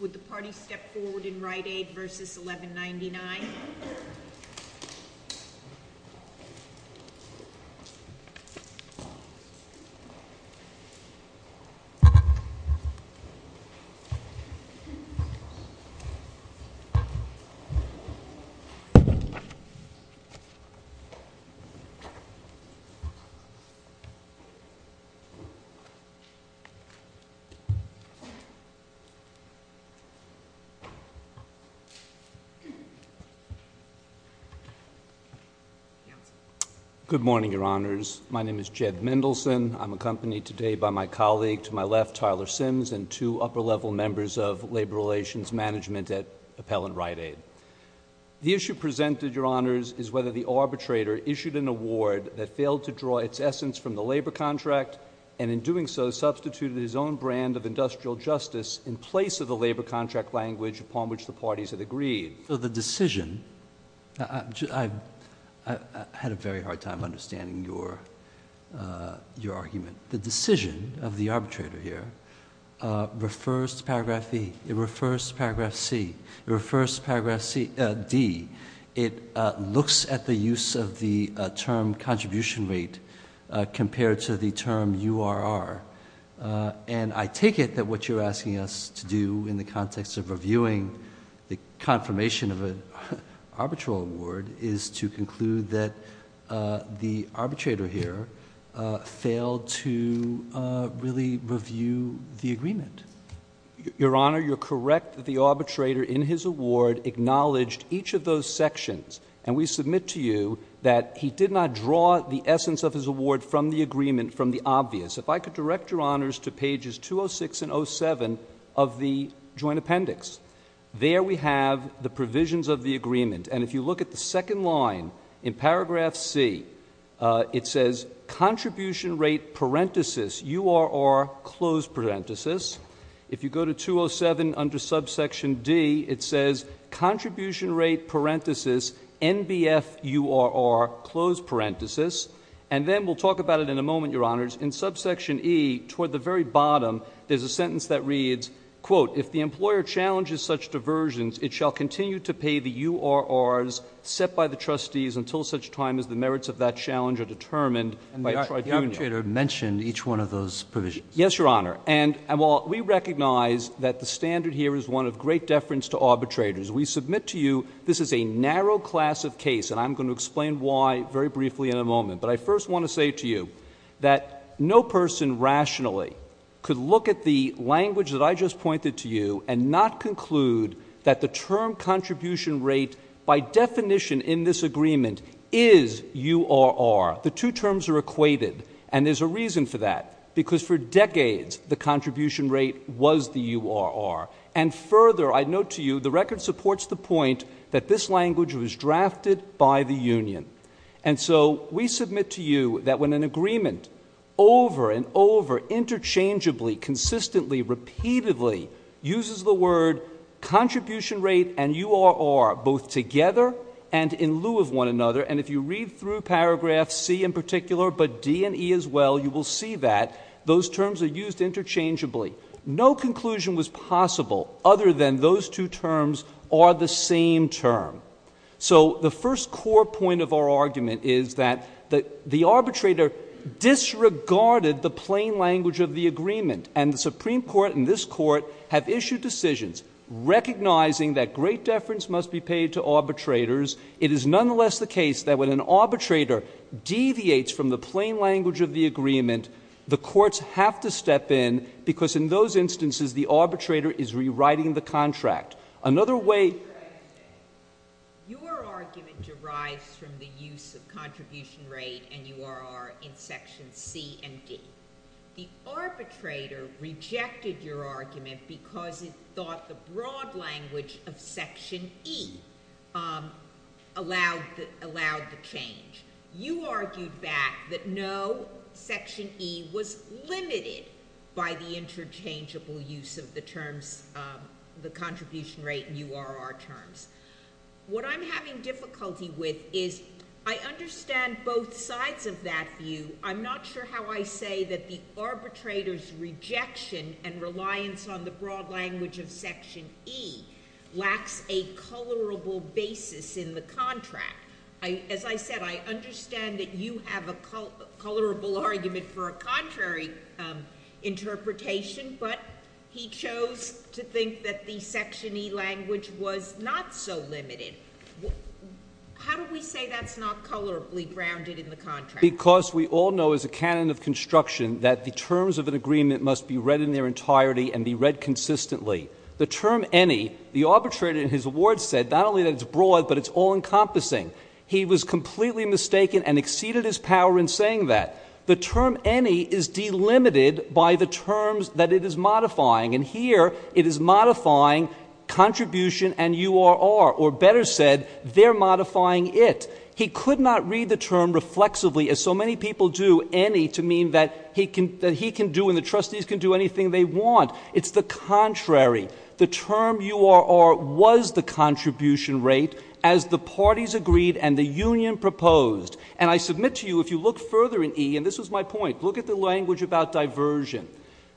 Would the party step forward in Rite Aid v. 1199? Good morning, Your Honors. My name is Jed Mendelson. I am accompanied today by my colleague to my left, Tyler Sims, and two upper-level members of labor relations management at Appellant Rite Aid. The issue presented, Your Honors, is whether the arbitrator issued an award that failed to draw its essence from the labor contract and, in doing so, substituted his own brand of industrial justice in place of the labor contract language upon which the parties had agreed. So the decision—I had a very hard time understanding your argument. The decision of the arbitrator here refers to Paragraph E. It refers to Paragraph C. It refers to Paragraph D. It looks at the use of the term contribution rate compared to the term URR. And I take it that what you're asking us to do in the context of reviewing the confirmation of an arbitral award is to conclude that the arbitrator here failed to really review the agreement. Your Honor, you're correct that the arbitrator in his award acknowledged each of those sections, and we submit to you that he did not draw the essence of his award from the agreement, from the obvious. If I could direct Your Honors to pages 206 and 07 of the Joint Appendix, there we have the provisions of the agreement. And if you look at the second line in Paragraph C, it says, Contribution Rate Parenthesis URR Close Parenthesis. If you go to 207 under Subsection D, it says, Contribution Rate Parenthesis NBF URR Close Parenthesis. And then we'll talk about it in a moment, Your Honors. In Subsection E, toward the very bottom, there's a sentence that reads, quote, If the employer challenges such diversions, it shall continue to pay the URRs set by the trustees until such time as the merits of that challenge are determined by a tridunial. And the arbitrator mentioned each one of those provisions. Yes, Your Honor. And while we recognize that the standard here is one of great deference to arbitrators, we submit to you this is a narrow class of case, and I'm going to explain why very briefly in a moment. But I first want to say to you that no person rationally could look at the language that I just pointed to you and not conclude that the term contribution rate, by definition in this agreement, is URR. The two terms are equated. And there's a reason for that. Because for decades, the contribution rate was the URR. And further, I note to you, the record supports the point that this language was drafted by the union. And so we submit to you that when an agreement over and over interchangeably, consistently, repeatedly uses the word contribution rate and URR both together and in lieu of one another, and if you read through paragraph C in particular, but D and E as well, you will see that those terms are used interchangeably. No conclusion was possible other than those two terms are the same term. So the first core point of our argument is that the arbitrator disregarded the plain language of the agreement. And the Supreme Court and this Court have issued decisions recognizing that great deference must be paid to arbitrators. It is nonetheless the case that when an arbitrator deviates from the plain language of the agreement, the courts have to step in, because in those instances, the arbitrator is rewriting the contract. Another way... Your argument derives from the use of contribution rate and URR in sections C and D. The arbitrator rejected your argument because it thought the broad language of section E allowed the change. You argued back that no, section E was limited by the interchangeable use of the terms, the contribution rate and URR terms. What I'm having difficulty with is I understand both sides of that view. I'm not sure how I say that the arbitrator's rejection and reliance on the broad language of section E lacks a colorable basis in the contract. As I said, I understand that you have a colorable argument for a contrary interpretation, but he chose to think that the section E language was not so limited. How do we say that's not colorably grounded in the contract? Because we all know as a canon of construction that the terms of an agreement must be read in their entirety and be read consistently. The term any, the arbitrator in his award said not only that it's broad, but it's all-encompassing. He was completely mistaken and exceeded his power in saying that. The term any is delimited by the terms that it is modifying, and here it is modifying contribution and URR, or better said, they're modifying it. He could not read the term reflexively as so many people do, any, to mean that he can do and the trustees can do anything they want. It's the contrary. The term URR was the contribution rate as the parties agreed and the union proposed. And I submit to you if you look further in E, and this was my point, look at the language about diversion.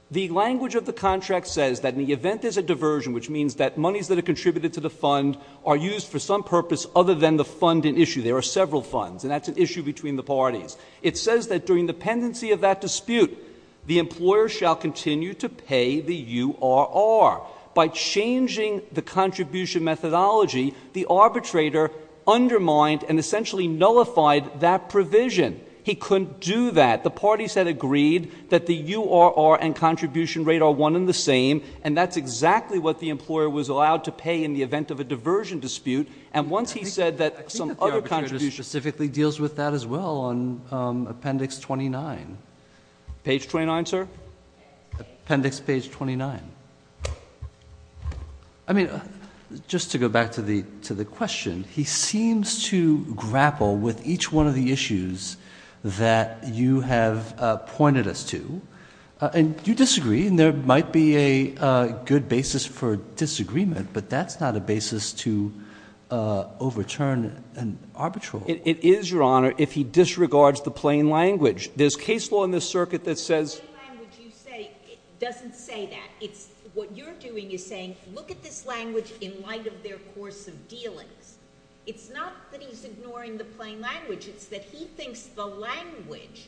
The language of the contract says that in the event there's a diversion, which means that monies that are contributed to the fund are used for some purpose other than the fund in issue. There are several funds, and that's an issue between the parties. It says that during the pendency of that dispute, the employer shall continue to pay the URR. By changing the contribution methodology, the arbitrator undermined and essentially nullified that provision. He couldn't do that. The parties had agreed that the URR and contribution rate are one and the same, and that's exactly what the employer was allowed to pay in the event of a diversion dispute. And once he said that some other contribution... I think that the arbitrator specifically deals with that as well on Appendix 29. Page 29, sir? Appendix page 29. I mean, just to go back to the question, he seems to grapple with each one of the issues that you have pointed us to. And you disagree, and there might be a good basis for disagreement, but that's not a basis to overturn an arbitral... It is, Your Honor, if he disregards the plain language. There's case law in this circuit that says... The plain language you say doesn't say that. What you're doing is saying, look at this language in light of their course of dealings. It's not that he's ignoring the plain language. It's that he thinks the language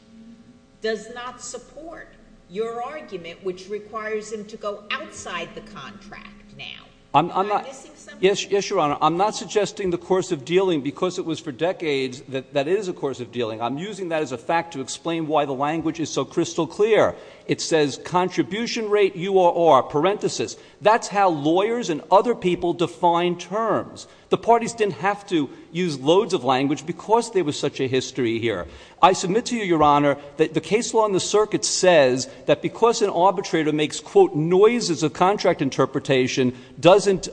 does not support your argument, which requires him to go outside the contract now. Am I missing something? Yes, Your Honor. I'm not suggesting the course of dealing, because it was for decades that it is a course of dealing. I'm using that as a fact to explain why the language is so crystal clear. It says contribution rate, URR, parenthesis. That's how lawyers and other people define terms. The parties didn't have to use loads of language because there was such a history here. I submit to you, Your Honor, that the case law in the circuit says that because an arbitrator makes, quote, noises of contract interpretation, doesn't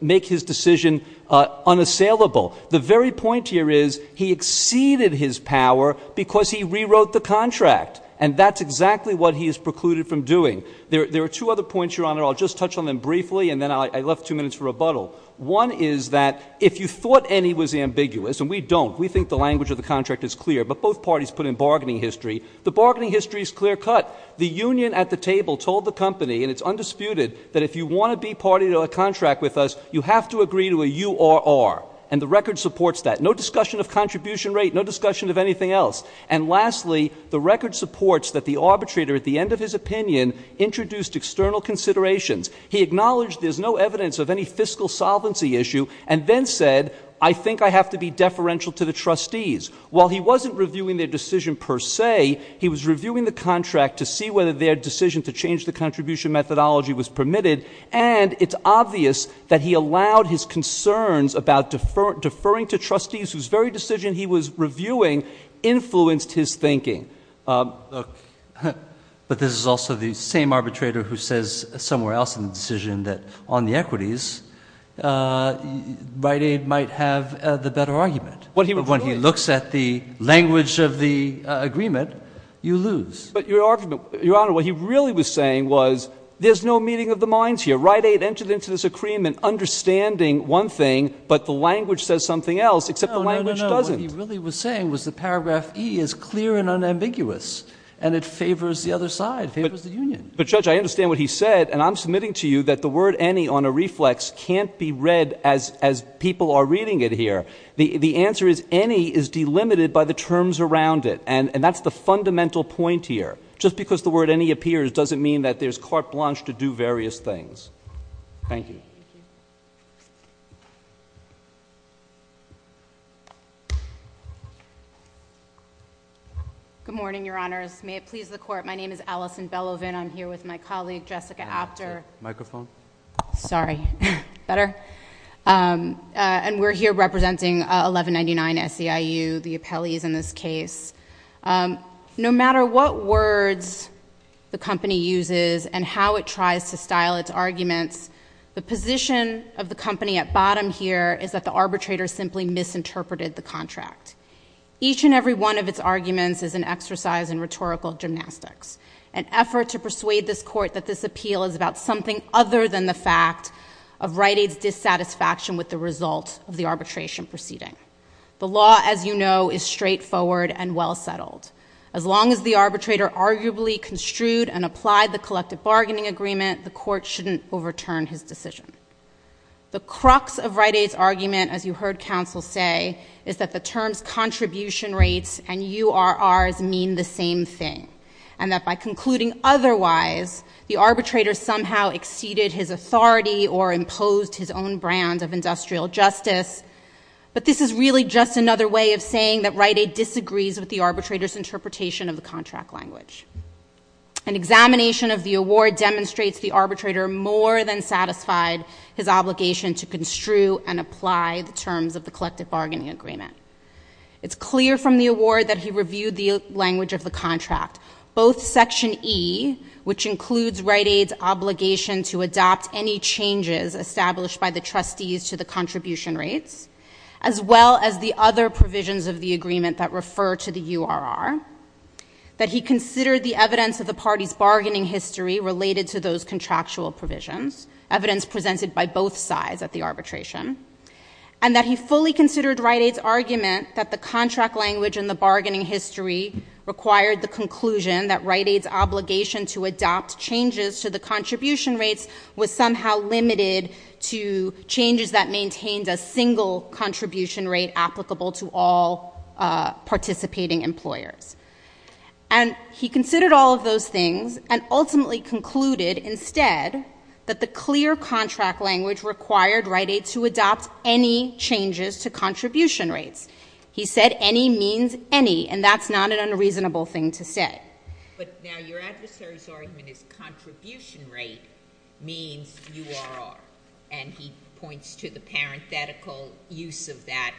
make his decision unassailable. The very point here is he exceeded his power because he rewrote the contract, and that's exactly what he is precluded from doing. There are two other points, Your Honor. I'll just touch on them briefly, and then I left two minutes for rebuttal. One is that if you thought Ennie was ambiguous, and we don't, we think the language of the contract is clear, but both parties put in bargaining history. The bargaining history is clear-cut. The union at the table told the company, and it's undisputed, that if you want to be party to a contract with us, you have to agree to a URR, and the record supports that. No discussion of contribution rate, no discussion of anything else. And lastly, the record supports that the arbitrator, at the end of his opinion, introduced external considerations. He acknowledged there's no evidence of any fiscal solvency issue, and then said, I think I have to be deferential to the trustees. While he wasn't reviewing their decision per se, he was reviewing the contract to see whether their decision to change the contribution methodology was permitted, and it's obvious that he allowed his concerns about deferring to trustees, whose very decision he was reviewing influenced his thinking. But this is also the same arbitrator who says somewhere else in the decision that on the equities, Rite Aid might have the better argument. But when he looks at the language of the agreement, you lose. But Your Honor, what he really was saying was, there's no meeting of the minds here. Rite Aid entered into this agreement understanding one thing, but the language says something else except the language doesn't. No, no, no. What he really was saying was that paragraph E is clear and unambiguous, and it favors the other side, favors the union. But Judge, I understand what he said, and I'm submitting to you that the word any on a reflex can't be read as people are reading it here. The answer is any is delimited by the terms around it, and that's the fundamental point here. Just because the word any appears doesn't mean that there's carte blanche to do various things. Thank you. Good morning, Your Honors. May it please the Court, my name is Allison Bellowvin, I'm here with my colleague Jessica Apter. Microphone. Sorry. Better? Better. And we're here representing 1199 SEIU, the appellees in this case. No matter what words the company uses and how it tries to style its arguments, the position of the company at bottom here is that the arbitrator simply misinterpreted the contract. Each and every one of its arguments is an exercise in rhetorical gymnastics, an effort to persuade this Court that this appeal is about something other than the fact of Rite Aid's satisfaction with the result of the arbitration proceeding. The law, as you know, is straightforward and well settled. As long as the arbitrator arguably construed and applied the collective bargaining agreement, the Court shouldn't overturn his decision. The crux of Rite Aid's argument, as you heard counsel say, is that the terms contribution rates and URRs mean the same thing, and that by concluding otherwise, the arbitrator somehow exceeded his authority or imposed his own brand of industrial justice. But this is really just another way of saying that Rite Aid disagrees with the arbitrator's interpretation of the contract language. An examination of the award demonstrates the arbitrator more than satisfied his obligation to construe and apply the terms of the collective bargaining agreement. It's clear from the award that he reviewed the language of the contract. Both Section E, which includes Rite Aid's obligation to adopt any changes established by the trustees to the contribution rates, as well as the other provisions of the agreement that refer to the URR, that he considered the evidence of the party's bargaining history related to those contractual provisions, evidence presented by both sides at the arbitration, and that he fully considered Rite Aid's argument that the contract language and the bargaining history required the conclusion that Rite Aid's obligation to adopt changes to the contribution rates was somehow limited to changes that maintained a single contribution rate applicable to all participating employers. And he considered all of those things and ultimately concluded instead that the clear contract language required Rite Aid to adopt any changes to contribution rates. He said any means any, and that's not an unreasonable thing to say. But now your adversary's argument is contribution rate means URR, and he points to the parenthetical use of that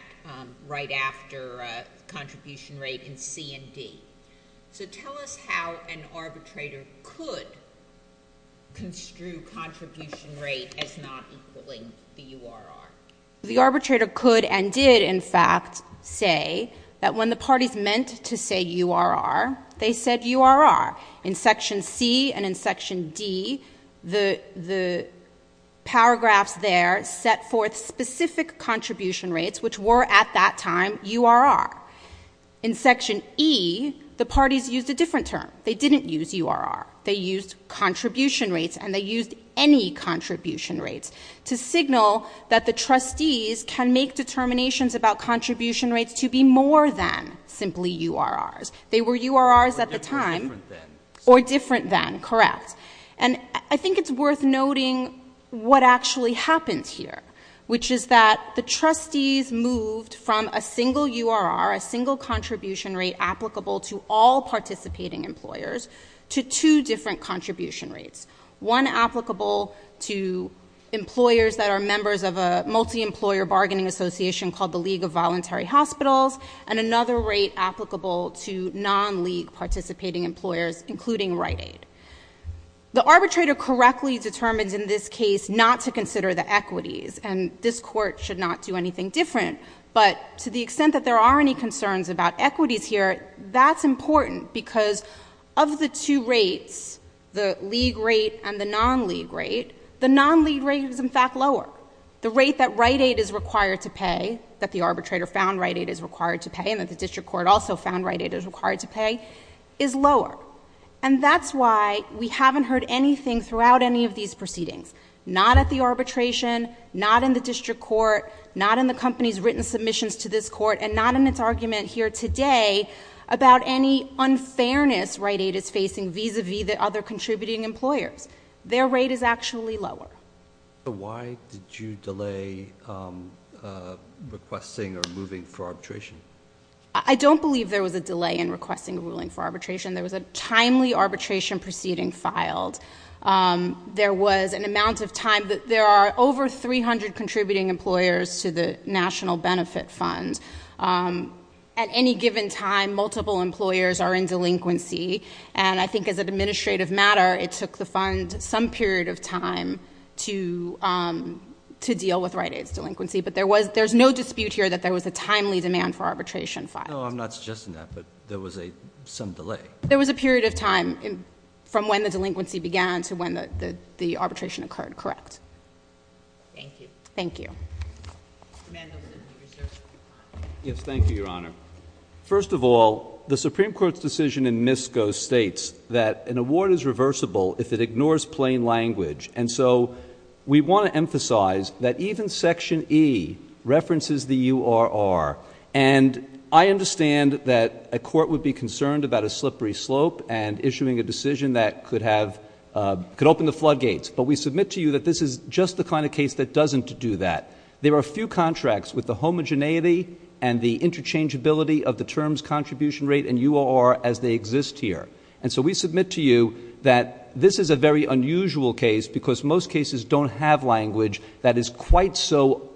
right after contribution rate in C and D. So tell us how an arbitrator could construe contribution rate as not equaling the URR. The arbitrator could and did, in fact, say that when the parties meant to say URR, they said URR. In Section C and in Section D, the paragraphs there set forth specific contribution rates, which were at that time URR. In Section E, the parties used a different term. They didn't use URR. They used contribution rates, and they used any contribution rates to signal that the trustees can make determinations about contribution rates to be more than simply URRs. They were URRs at the time or different than, correct. And I think it's worth noting what actually happens here, which is that the trustees moved from a single URR, a single contribution rate applicable to all participating employers, to two different contribution rates, one applicable to employers that are members of a multi-employer bargaining association called the League of Voluntary Hospitals, and another rate applicable to non-league participating employers, including Rite Aid. The arbitrator correctly determines in this case not to consider the equities, and this court should not do anything different. But to the extent that there are any concerns about equities here, that's important, because of the two rates, the league rate and the non-league rate, the non-league rate is, in fact, lower. The rate that Rite Aid is required to pay, that the arbitrator found Rite Aid is required to pay and that the district court also found Rite Aid is required to pay, is lower. And that's why we haven't heard anything throughout any of these proceedings, not at the arbitration, not in the district court, not in the company's written submissions to this court, and not in its argument here today about any unfairness Rite Aid is facing vis-a-vis the other contributing employers. Their rate is actually lower. Why did you delay requesting or moving for arbitration? I don't believe there was a delay in requesting a ruling for arbitration. There was a timely arbitration proceeding filed. There was an amount of time that there are over 300 contributing employers to the National Benefit Fund. At any given time, multiple employers are in delinquency and I think as an administrative matter, it took the fund some period of time to deal with Rite Aid's delinquency, but there's no dispute here that there was a timely demand for arbitration filed. No, I'm not suggesting that, but there was some delay. There was a period of time from when the delinquency began to when the arbitration occurred, correct. Thank you. Thank you. Thank you, Your Honor. First of all, the Supreme Court's decision in MISCO states that an award is reversible if it ignores plain language, and so we want to emphasize that even Section E references the URR, and I understand that a court would be concerned about a slippery slope and issuing a decision that could open the floodgates, but we submit to you that this is just the kind of case that doesn't do that. There are a few contracts with the homogeneity and the interchangeability of the terms contribution rate and URR as they exist here, and so we submit to you that this is a very unusual case because most cases don't have language that is quite so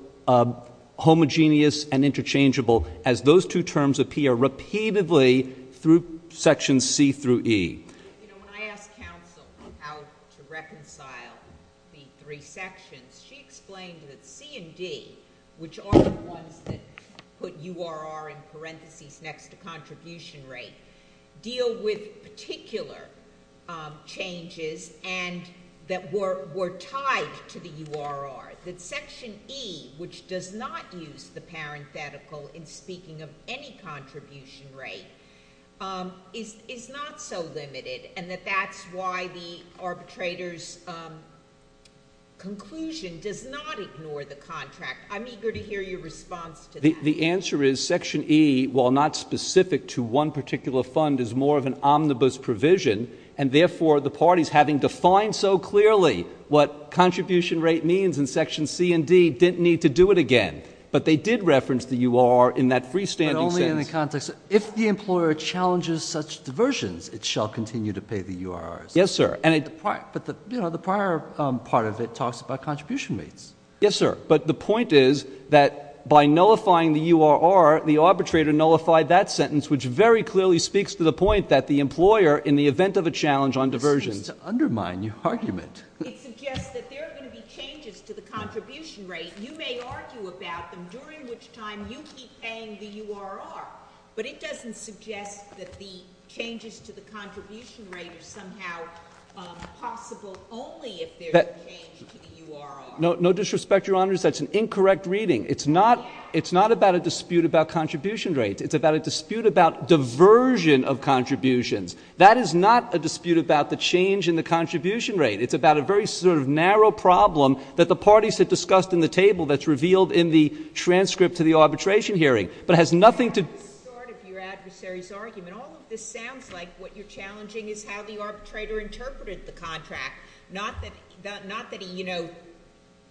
homogeneous and interchangeable as those two terms appear repeatedly through Section C through E. You know, when I asked counsel how to reconcile the three sections, she explained that C and D, which are the ones that put URR in parentheses next to contribution rate, deal with particular changes and that were tied to the URR, that Section E, which does not use the parenthetical in speaking of any contribution rate, is not so limited and that that's why the arbitrator's conclusion does not ignore the contract. I'm eager to hear your response to that. The answer is Section E, while not specific to one particular fund, is more of an omnibus provision, and therefore the parties, having defined so clearly what contribution rate means in Section C and D, didn't need to do it again, but they did reference the URR in that freestanding sentence. But only in the context of if the employer challenges such diversions, it shall continue to pay the URRs. Yes, sir. But, you know, the prior part of it talks about contribution rates. Yes, sir. But the point is that by nullifying the URR, the arbitrator nullified that sentence, which very clearly speaks to the point that the employer, in the event of a challenge on diversions— This seems to undermine your argument. It suggests that there are going to be changes to the contribution rate. You may argue about them, during which time you keep paying the URR. But it doesn't suggest that the changes to the contribution rate are somehow possible only if there's a change to the URR. No disrespect, Your Honors, that's an incorrect reading. It's not about a dispute about contribution rates. It's about a dispute about diversion of contributions. That is not a dispute about the change in the contribution rate. It's about a very sort of narrow problem that the parties have discussed in the table that's revealed in the transcript to the arbitration hearing, but has nothing to— That's sort of your adversary's argument. All of this sounds like what you're challenging is how the arbitrator interpreted the contract, not that he, you know,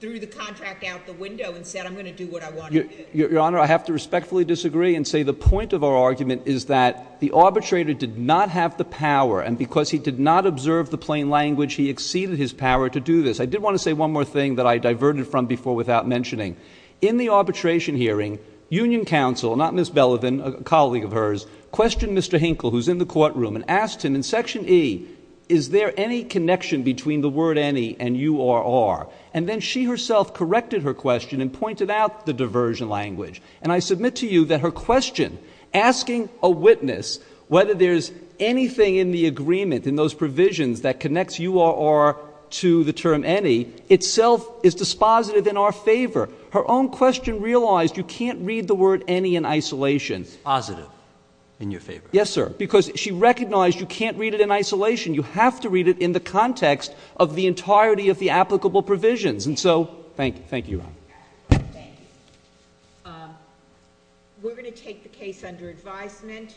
threw the contract out the window and said, I'm going to do what I want to do. Your Honor, I have to respectfully disagree and say the point of our argument is that the arbitrator did not have the power, and because he did not observe the plain language, he exceeded his power to do this. I did want to say one more thing that I diverted from before without mentioning. In the arbitration hearing, Union Counsel, not Ms. Belevin, a colleague of hers, questioned Mr. Hinkle, who's in the courtroom, and asked him in Section E, is there any connection between the word any and URR? And then she herself corrected her question and pointed out the diversion language. And I submit to you that her question, asking a witness whether there's anything in the agreement, in those provisions that connects URR to the term any, itself is dispositive in our favor. Her own question realized you can't read the word any in isolation. Dispositive in your favor? Yes, sir, because she recognized you can't read it in isolation. You have to read it in the context of the entirety of the applicable provisions. And so thank you. Thank you, Your Honor. Thank you. We're going to take the case under advisement.